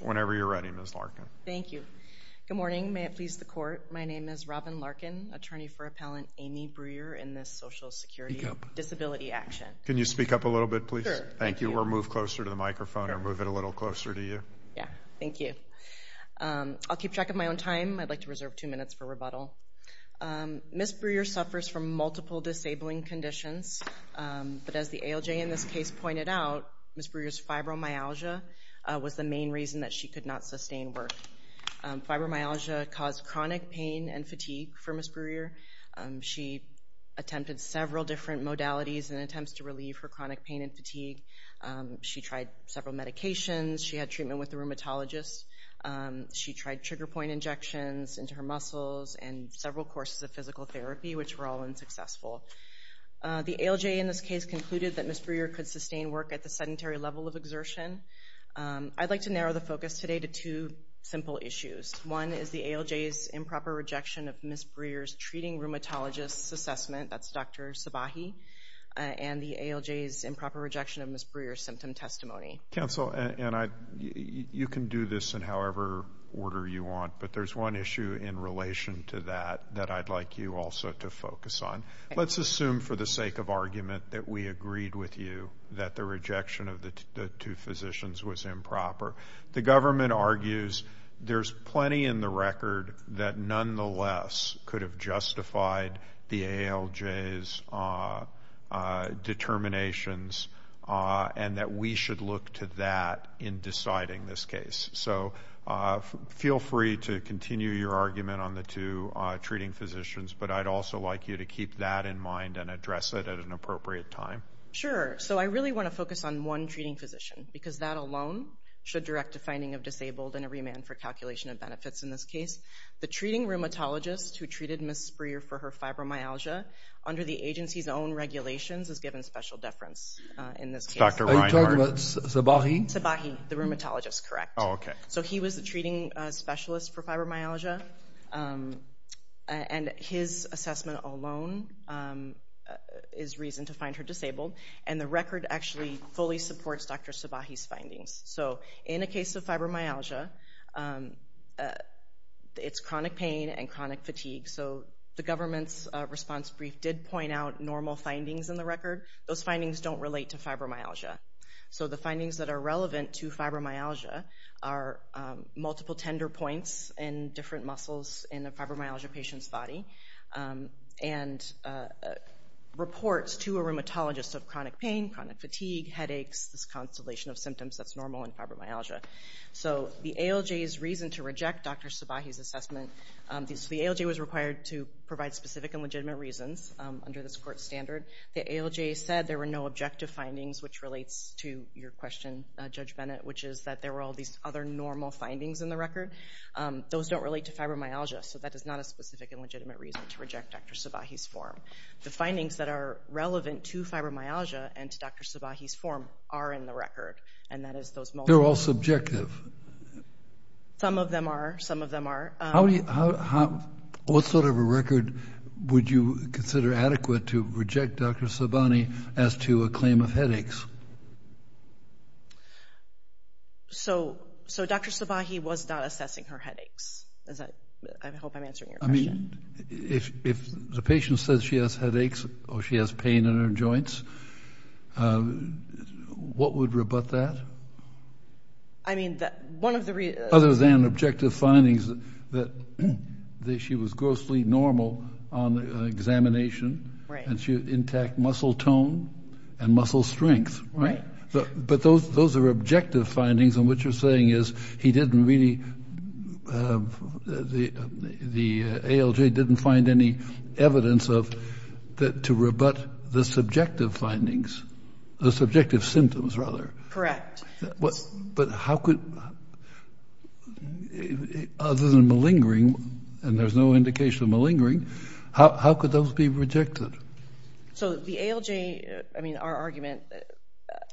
Whenever you're ready, Ms. Larkin. Thank you. Good morning. May it please the Court, my name is Robyn Larkin, attorney for Appellant Amie Bruyer in this Social Security Disability Action. Can you speak up a little bit, please? Sure. Thank you. Or move closer to the microphone or move it a little closer to you? Yeah. Thank you. I'll keep track of my own time. I'd like to reserve two minutes for rebuttal. Ms. Bruyer suffers from multiple disabling conditions, but as the ALJ in this case pointed out, Ms. Bruyer's fibromyalgia was the main reason that she could not sustain work. Fibromyalgia caused chronic pain and fatigue for Ms. Bruyer. She attempted several different modalities and attempts to relieve her chronic pain and fatigue. She tried several medications. She had treatment with a rheumatologist. She tried trigger point injections into her muscles and several courses of physical therapy which were all unsuccessful. The ALJ in this case concluded that Ms. Bruyer could sustain work at the sedentary level of exertion. I'd like to narrow the focus today to two simple issues. One is the ALJ's improper rejection of Ms. Bruyer's treating rheumatologist's assessment, that's Dr. Sabahi, and the ALJ's improper rejection of Ms. Bruyer's symptom testimony. Counsel, you can do this in however order you want, but there's one issue in relation to that that I'd like you also to focus on. Let's assume for the sake of argument that we agreed with you that the rejection of the two physicians was improper. The government argues there's plenty in the record that nonetheless could have justified the ALJ's determinations and that we should look to that in deciding this case. So feel free to continue your argument on the two treating physicians, but I'd also like you to keep that in mind and address it at an appropriate time. Sure. So I really want to focus on one treating physician because that alone should direct a finding of disabled and a remand for calculation of benefits in this case. The treating rheumatologist who treated Ms. Bruyer for her fibromyalgia under the agency's own regulations is given special deference in this case. Are you talking about Sabahi? Sabahi, the rheumatologist, correct. So he was the treating specialist for fibromyalgia, and his assessment alone is reason to find her disabled, and the record actually fully supports Dr. Sabahi's findings. So in a case of fibromyalgia, it's chronic pain and chronic fatigue. So the government's response brief did point out normal findings in the record. Those findings don't relate to fibromyalgia. So the findings that are relevant to fibromyalgia are multiple tender points in different muscles in a fibromyalgia patient's body, and reports to a rheumatologist of chronic pain, chronic fatigue, headaches, this constellation of symptoms that's normal in fibromyalgia. So the ALJ's reason to reject Dr. Sabahi's assessment, the ALJ was required to provide specific and legitimate reasons under this court standard, the ALJ said there were no subjective findings, which relates to your question, Judge Bennett, which is that there were all these other normal findings in the record. Those don't relate to fibromyalgia, so that is not a specific and legitimate reason to reject Dr. Sabahi's form. The findings that are relevant to fibromyalgia and to Dr. Sabahi's form are in the record, and that is those multiple- They're all subjective. Some of them are. Some of them are. How do you- What sort of a record would you consider adequate to reject Dr. Sabahi as to a claim of headaches? So Dr. Sabahi was not assessing her headaches, is that- I hope I'm answering your question. If the patient says she has headaches or she has pain in her joints, what would rebut that? I mean, one of the- Other than objective findings that she was grossly normal on examination, and she had intact muscle tone and muscle strength, right? But those are objective findings, and what you're saying is he didn't really- the ALJ didn't find any evidence to rebut the subjective findings, the subjective symptoms, rather. Correct. But how could- other than malingering, and there's no indication of malingering, how could those be rejected? So the ALJ- I mean, our argument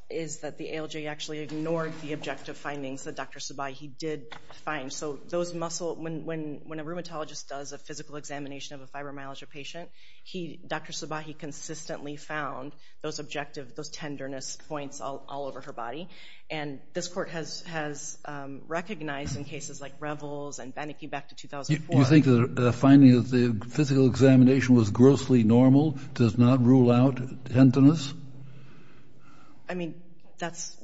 is that the ALJ actually ignored the objective findings that Dr. Sabahi did find. So those muscle- when a rheumatologist does a physical examination of a fibromyalgia patient, Dr. Sabahi consistently found those objective, those tenderness points all over her body. And this court has recognized in cases like Revels and Banneke back to 2004- Do you think the finding of the physical examination was grossly normal, does not rule out tenderness? I mean, that's-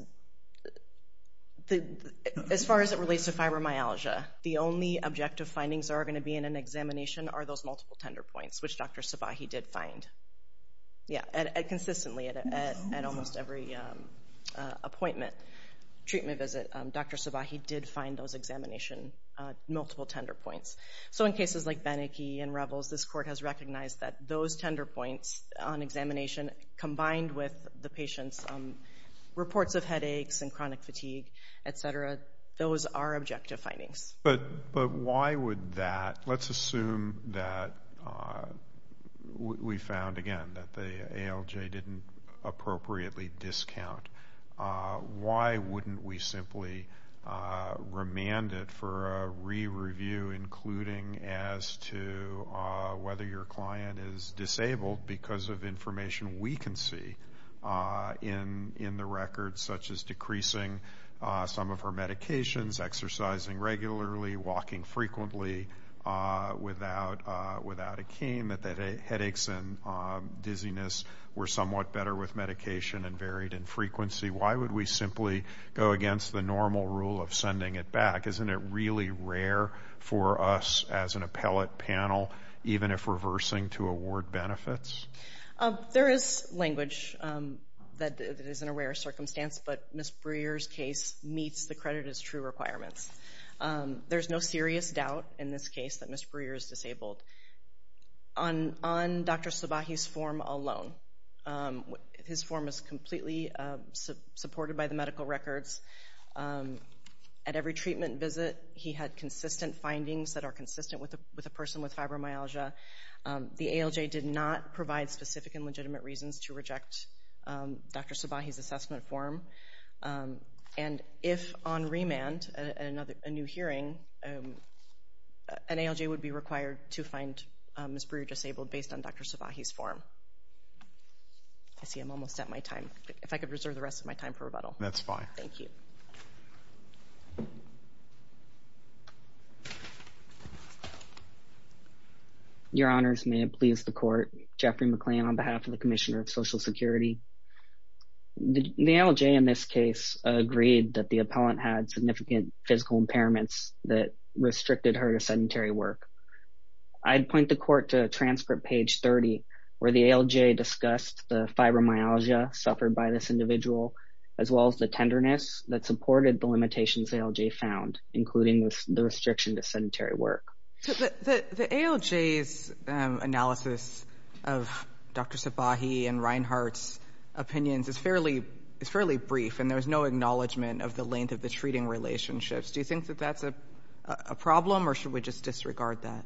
as far as it relates to fibromyalgia, the only objective findings that are going to be in an examination are those multiple tender points, which Dr. Sabahi did find. Yeah, and consistently at almost every appointment, treatment visit, Dr. Sabahi did find those examination multiple tender points. So in cases like Banneke and Revels, this court has recognized that those tender points on examination combined with the patient's reports of headaches and chronic fatigue, et cetera, those are objective findings. But why would that- let's assume that we found, again, that the ALJ didn't appropriately discount. Why wouldn't we simply remand it for a re-review, including as to whether your client is disabled because of information we can see in the records, such as decreasing some of her medications, exercising regularly, walking frequently without a cane, that the headaches and dizziness were somewhat better with medication and varied in frequency? Why would we simply go against the normal rule of sending it back? Isn't it really rare for us as an appellate panel, even if reversing to award benefits? There is language that it is in a rare circumstance, but Ms. Breer's case meets the credit as true requirements. There's no serious doubt in this case that Ms. Breer is disabled. On Dr. Subahi's form alone, his form is completely supported by the medical records. At every treatment visit, he had consistent findings that are consistent with a person with fibromyalgia. The ALJ did not provide specific and legitimate reasons to reject Dr. Subahi's assessment form. And if on remand at a new hearing, an ALJ would be required to find Ms. Breer disabled based on Dr. Subahi's form. I see I'm almost at my time. If I could reserve the rest of my time for rebuttal. That's fine. Thank you. Your Honors, may it please the Court, Jeffrey McLean on behalf of the Commissioner of Social Security. The ALJ in this case agreed that the appellant had significant physical impairments that restricted her to sedentary work. I'd point the Court to transcript page 30, where the ALJ discussed the fibromyalgia suffered by this individual, as well as the tenderness that supported the limitations ALJ found, including the restriction to sedentary work. The ALJ's analysis of Dr. Subahi and Reinhart's opinions is fairly brief, and there's no acknowledgment of the length of the treating relationships. Do you think that that's a problem, or should we just disregard that?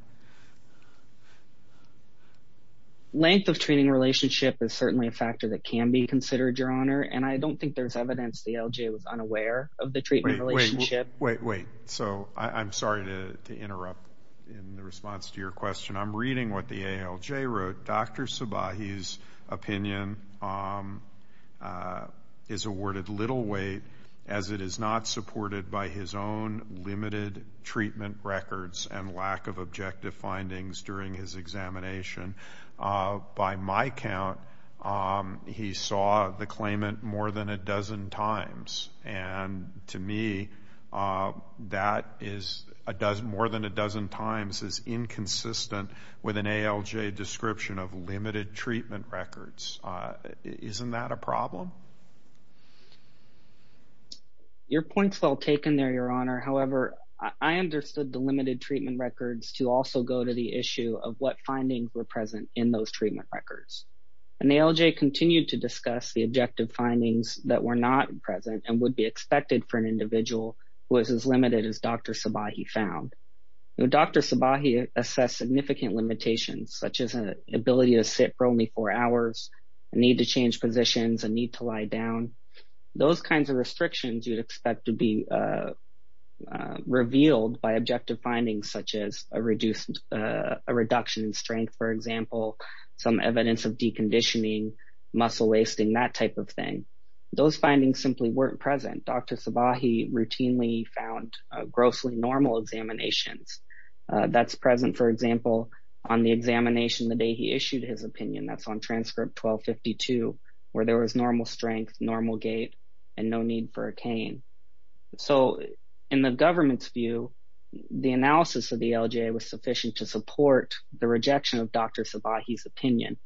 Length of treating relationship is certainly a factor that can be considered, Your Honor, and I don't think there's evidence the ALJ was unaware of the treatment relationship. Wait, wait. So, I'm sorry to interrupt in response to your question. I'm reading what the ALJ wrote. Dr. Subahi's opinion is awarded little weight, as it is not supported by his own limited treatment records and lack of objective findings during his examination. By my count, he saw the claimant more than a dozen times, and to me, more than a dozen times is inconsistent with an ALJ description of limited treatment records. Isn't that a problem? Your point's well taken there, Your Honor. However, I understood the limited treatment records to also go to the issue of what findings were present in those treatment records, and the ALJ continued to discuss the objective findings that were not present and would be expected for an individual who was as limited as Dr. Subahi found. Now, Dr. Subahi assessed significant limitations, such as an ability to sit for only four hours, a need to change positions, a need to lie down. Those kinds of restrictions you'd expect to be revealed by objective findings, such as a reduction in strength, for example, some evidence of deconditioning, muscle wasting, that type of thing. Those findings simply weren't present. Dr. Subahi routinely found grossly normal examinations. That's present, for example, on the examination the day he issued his opinion. That's on transcript 1252, where there was normal strength, normal gait, and no need for a cane. So, in the government's view, the analysis of the ALJ was sufficient to support the rejection of Dr. Subahi's opinion.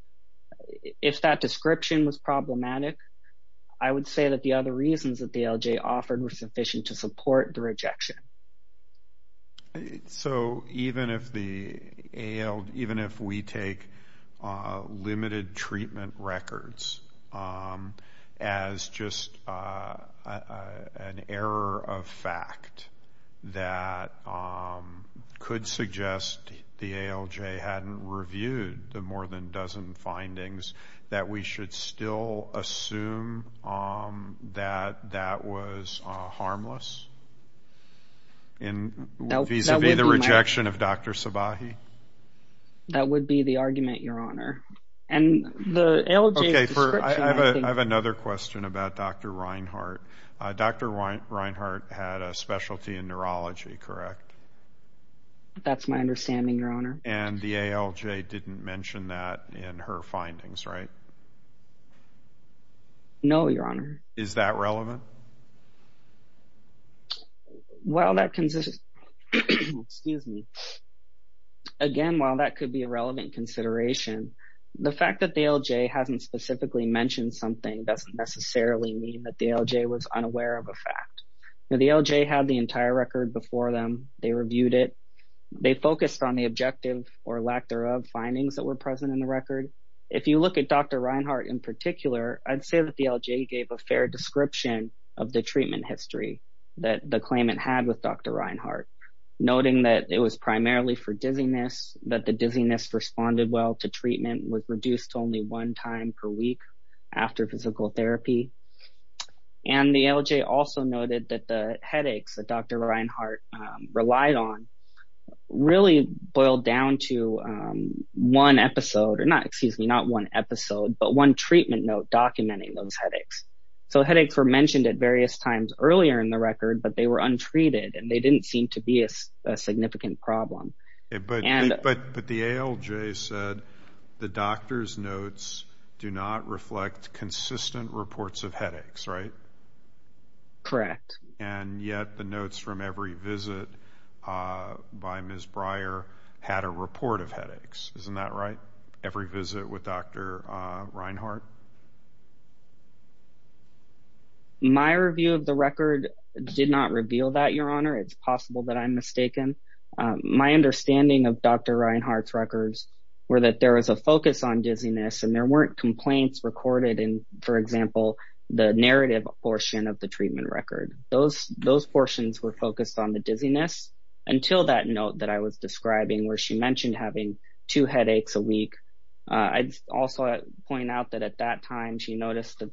If that description was problematic, I would say that the other reasons that the ALJ offered were sufficient to support the rejection. So, even if we take limited treatment records as just an error of fact that could suggest the ALJ hadn't reviewed the more than dozen findings, that we should still assume that that was harmless, vis-a-vis the rejection of Dr. Subahi? That would be the argument, Your Honor. And the ALJ's description... Okay, I have another question about Dr. Reinhart. Dr. Reinhart had a specialty in neurology, correct? That's my understanding, Your Honor. And the ALJ didn't mention that in her findings, right? No, Your Honor. Is that relevant? Well, that... Excuse me. Again, while that could be a relevant consideration, the fact that the ALJ hasn't specifically mentioned something doesn't necessarily mean that the ALJ was unaware of a fact. The ALJ had the entire record before them. They reviewed it. They focused on the objective, or lack thereof, findings that were present in the record. If you look at Dr. Reinhart in particular, I'd say that the ALJ gave a fair description of the treatment history that the claimant had with Dr. Reinhart, noting that it was primarily for dizziness, that the dizziness responded well to treatment, was reduced to only one time per week after physical therapy. And the ALJ also noted that the headaches that Dr. Reinhart relied on really boiled down to one episode, or not, excuse me, not one episode, but one treatment note documenting those headaches. So headaches were mentioned at various times earlier in the record, but they were untreated, and they didn't seem to be a significant problem. But the ALJ said the doctor's notes do not reflect consistent reports of headaches, right? Correct. And yet the notes from every visit by Ms. Breyer had a report of headaches, isn't that right? Every visit with Dr. Reinhart? My review of the record did not reveal that, Your Honor. It's possible that I'm mistaken. My understanding of Dr. Reinhart's records were that there was a focus on dizziness, and there weren't complaints recorded in, for example, the narrative portion of the treatment record. Those portions were focused on the dizziness until that note that I was describing where she mentioned having two headaches a week. I'd also point out that at that time, she noticed that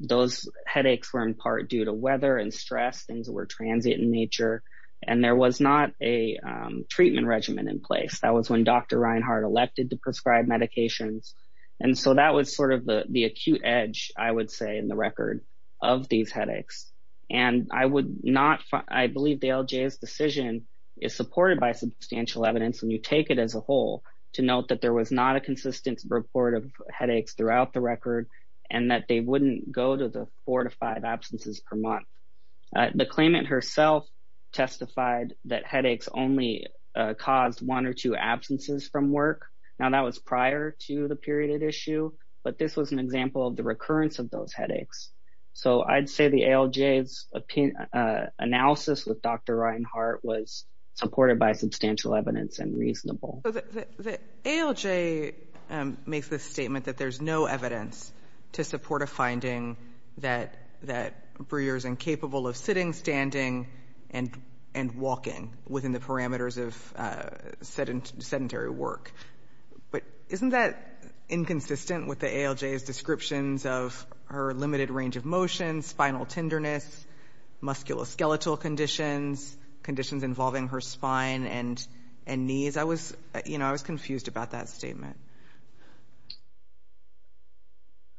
those headaches were in part due to weather and stress, things that were transient in nature, and there was not a treatment regimen in place. That was when Dr. Reinhart elected to prescribe medications. And so that was sort of the acute edge, I would say, in the record of these headaches. And I believe the ALJ's decision is supported by substantial evidence when you take it as a whole to note that there was not a consistent report of headaches throughout the record and that they wouldn't go to the four to five absences per month. The claimant herself testified that headaches only caused one or two absences from work. Now, that was prior to the period of issue, but this was an example of the recurrence of those headaches. So I'd say the ALJ's analysis with Dr. Reinhart was supported by substantial evidence and reasonable. So the ALJ makes the statement that there's no evidence to support a finding that Breer is incapable of sitting, standing, and walking within the parameters of sedentary work. But isn't that inconsistent with the ALJ's descriptions of her limited range of motion, spinal tenderness, musculoskeletal conditions, conditions involving her spine and knees? I was, you know, I was confused about that statement.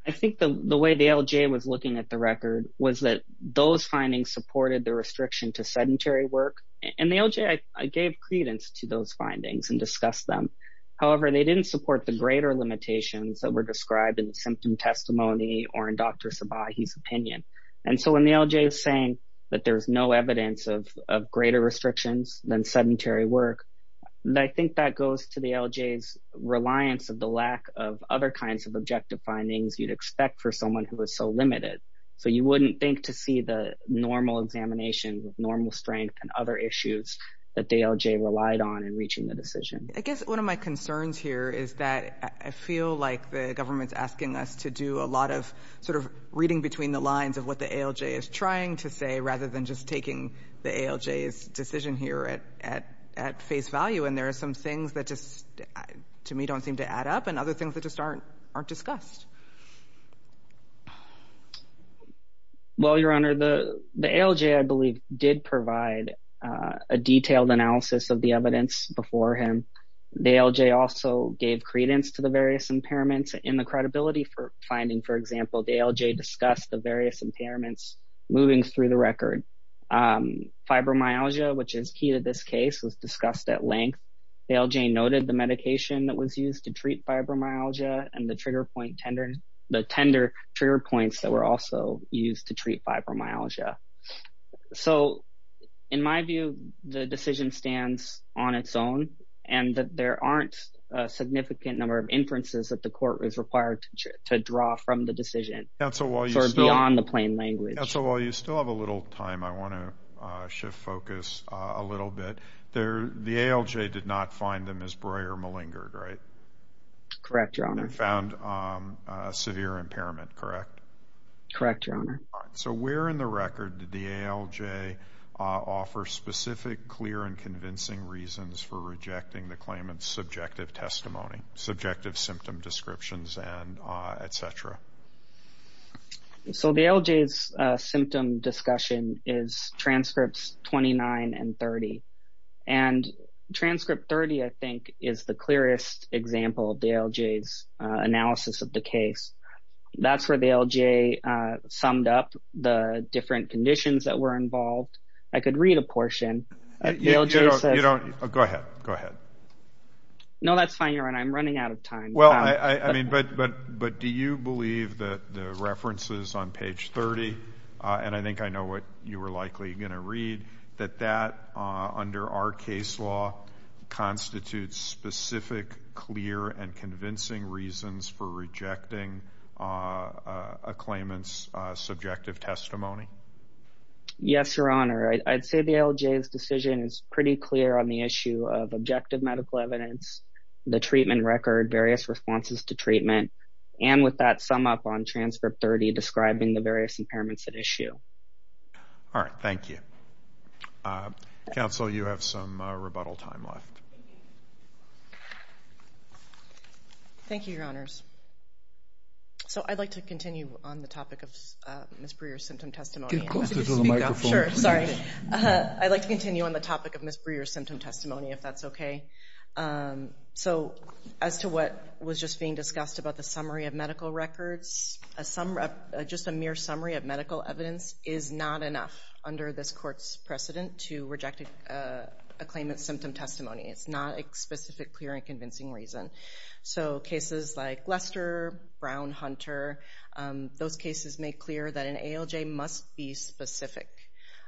I think the way the ALJ was looking at the record was that those findings supported the restriction to sedentary work, and the ALJ gave credence to those findings and discussed them. However, they didn't support the greater limitations that were described in the symptom testimony or in Dr. Sabahi's opinion. And so when the ALJ is saying that there's no evidence of greater restrictions than sedentary work, I think that goes to the ALJ's reliance of the lack of other kinds of objective findings you'd expect for someone who is so limited. So you wouldn't think to see the normal examination with normal strength and other issues that the ALJ relied on in reaching the decision. I guess one of my concerns here is that I feel like the government's asking us to do a lot of sort of reading between the lines of what the ALJ is trying to say rather than just taking the ALJ's decision here at face value. And there are some things that just, to me, don't seem to add up, and other things that just aren't discussed. Well, Your Honor, the ALJ, I believe, did provide a detailed analysis of the evidence before him. The ALJ also gave credence to the various impairments in the credibility finding. For example, the ALJ discussed the various impairments moving through the record. Fibromyalgia, which is key to this case, was discussed at length. The ALJ noted the medication that was used to treat fibromyalgia and the trigger point tender, the tender trigger points that were also used to treat fibromyalgia. So in my view, the decision stands on its own, and that there aren't a significant number of inferences that the court is required to draw from the decision, sort of beyond the plain language. Counsel, while you still have a little time, I want to shift focus a little bit. The ALJ did not find the Ms. Breuer malingered, right? Correct, Your Honor. And found severe impairment, correct? Correct, Your Honor. So where in the record did the ALJ offer specific, clear, and convincing reasons for rejecting the claimant's subjective testimony, subjective symptom descriptions, and et cetera? So the ALJ's symptom discussion is transcripts 29 and 30. And transcript 30, I think, is the clearest example of the ALJ's analysis of the case. That's where the ALJ summed up the different conditions that were involved. I could read a portion. Go ahead. Go ahead. No, that's fine, Your Honor. I'm running out of time. Well, I mean, but do you believe that the references on page 30, and I think I know what you were likely going to read, that that under our case law constitutes specific, clear, and convincing reasons for rejecting a claimant's subjective testimony? Yes, Your Honor. I'd say the ALJ's decision is pretty clear on the issue of objective medical evidence, the treatment record, various responses to treatment, and with that sum up on transcript 30 describing the various impairments at issue. All right. Thank you. Counsel, you have some rebuttal time left. Thank you, Your Honors. So I'd like to continue on the topic of Ms. Brewer's symptom testimony. Could you close the microphone? Sure. Sorry. I'd like to continue on the topic of Ms. Brewer's symptom testimony, if that's okay. So as to what was just being discussed about the summary of medical records, just a mere summary of medical evidence is not enough under this Court's precedent to reject a claimant's symptom testimony. It's not a specific, clear, and convincing reason. So cases like Lester, Brown, Hunter, those cases make clear that an ALJ must be specific.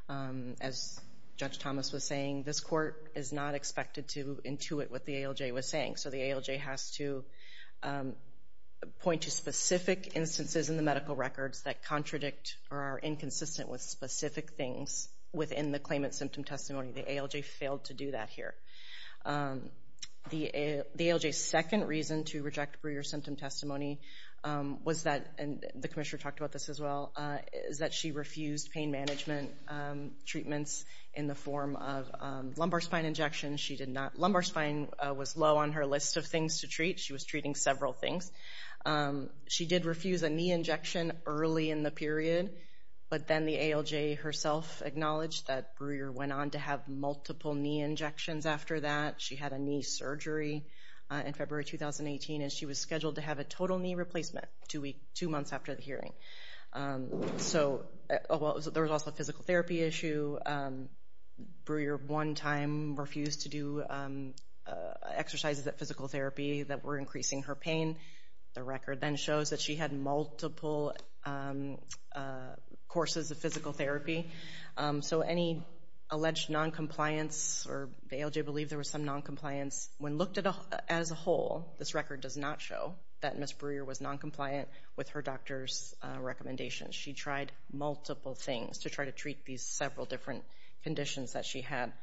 As Judge Thomas was saying, this Court is not expected to intuit what the ALJ was saying. So the ALJ has to point to specific instances in the medical records that contradict or are inconsistent with specific things within the claimant's symptom testimony. The ALJ failed to do that here. The ALJ's second reason to reject Brewer's symptom testimony was that—and the Commissioner talked about this as well—is that she refused pain management treatments in the form of lumbar spine injections. She did not—lumbar spine was low on her list of things to treat. She was treating several things. She did refuse a knee injection early in the period, but then the ALJ herself acknowledged that Brewer went on to have multiple knee injections after that. She had a knee surgery in February 2018, and she was scheduled to have a total knee replacement two months after the hearing. So there was also a physical therapy issue. Brewer one time refused to do exercises at physical therapy that were increasing her pain. The record then shows that she had multiple courses of physical therapy. So any alleged non-compliance, or the ALJ believed there was some non-compliance, when looked at as a whole, this record does not show that Ms. Brewer was non-compliant with her doctor's recommendations. She tried multiple things to try to treat these several different conditions that she had.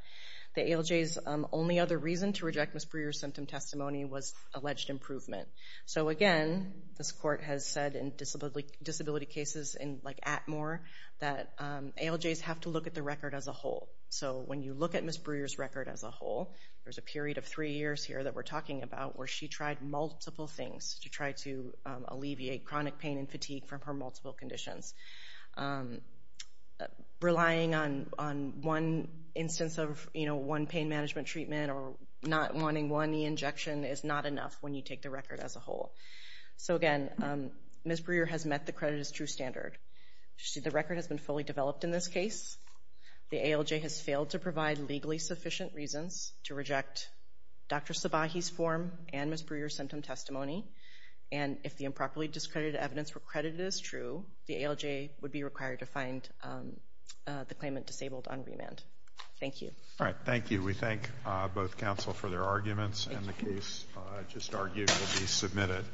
The ALJ's only other reason to reject Ms. Brewer's symptom testimony was alleged improvement. So again, this court has said in disability cases like Atmore that ALJs have to look at the record as a whole. So when you look at Ms. Brewer's record as a whole, there's a period of three years here that we're talking about where she tried multiple things to try to alleviate chronic pain and fatigue from her multiple conditions. Relying on one instance of one pain management treatment or not wanting one knee injection is not enough when you take the record as a whole. So again, Ms. Brewer has met the credit as true standard. The record has been fully developed in this case. The ALJ has failed to provide legally sufficient reasons to reject Dr. Sabahi's form and Ms. Brewer's symptom testimony. And if the improperly discredited evidence were credited as true, the ALJ would be required to find the claimant disabled on remand. Thank you. Thank you. We thank both counsel for their arguments and the case just argued will be submitted.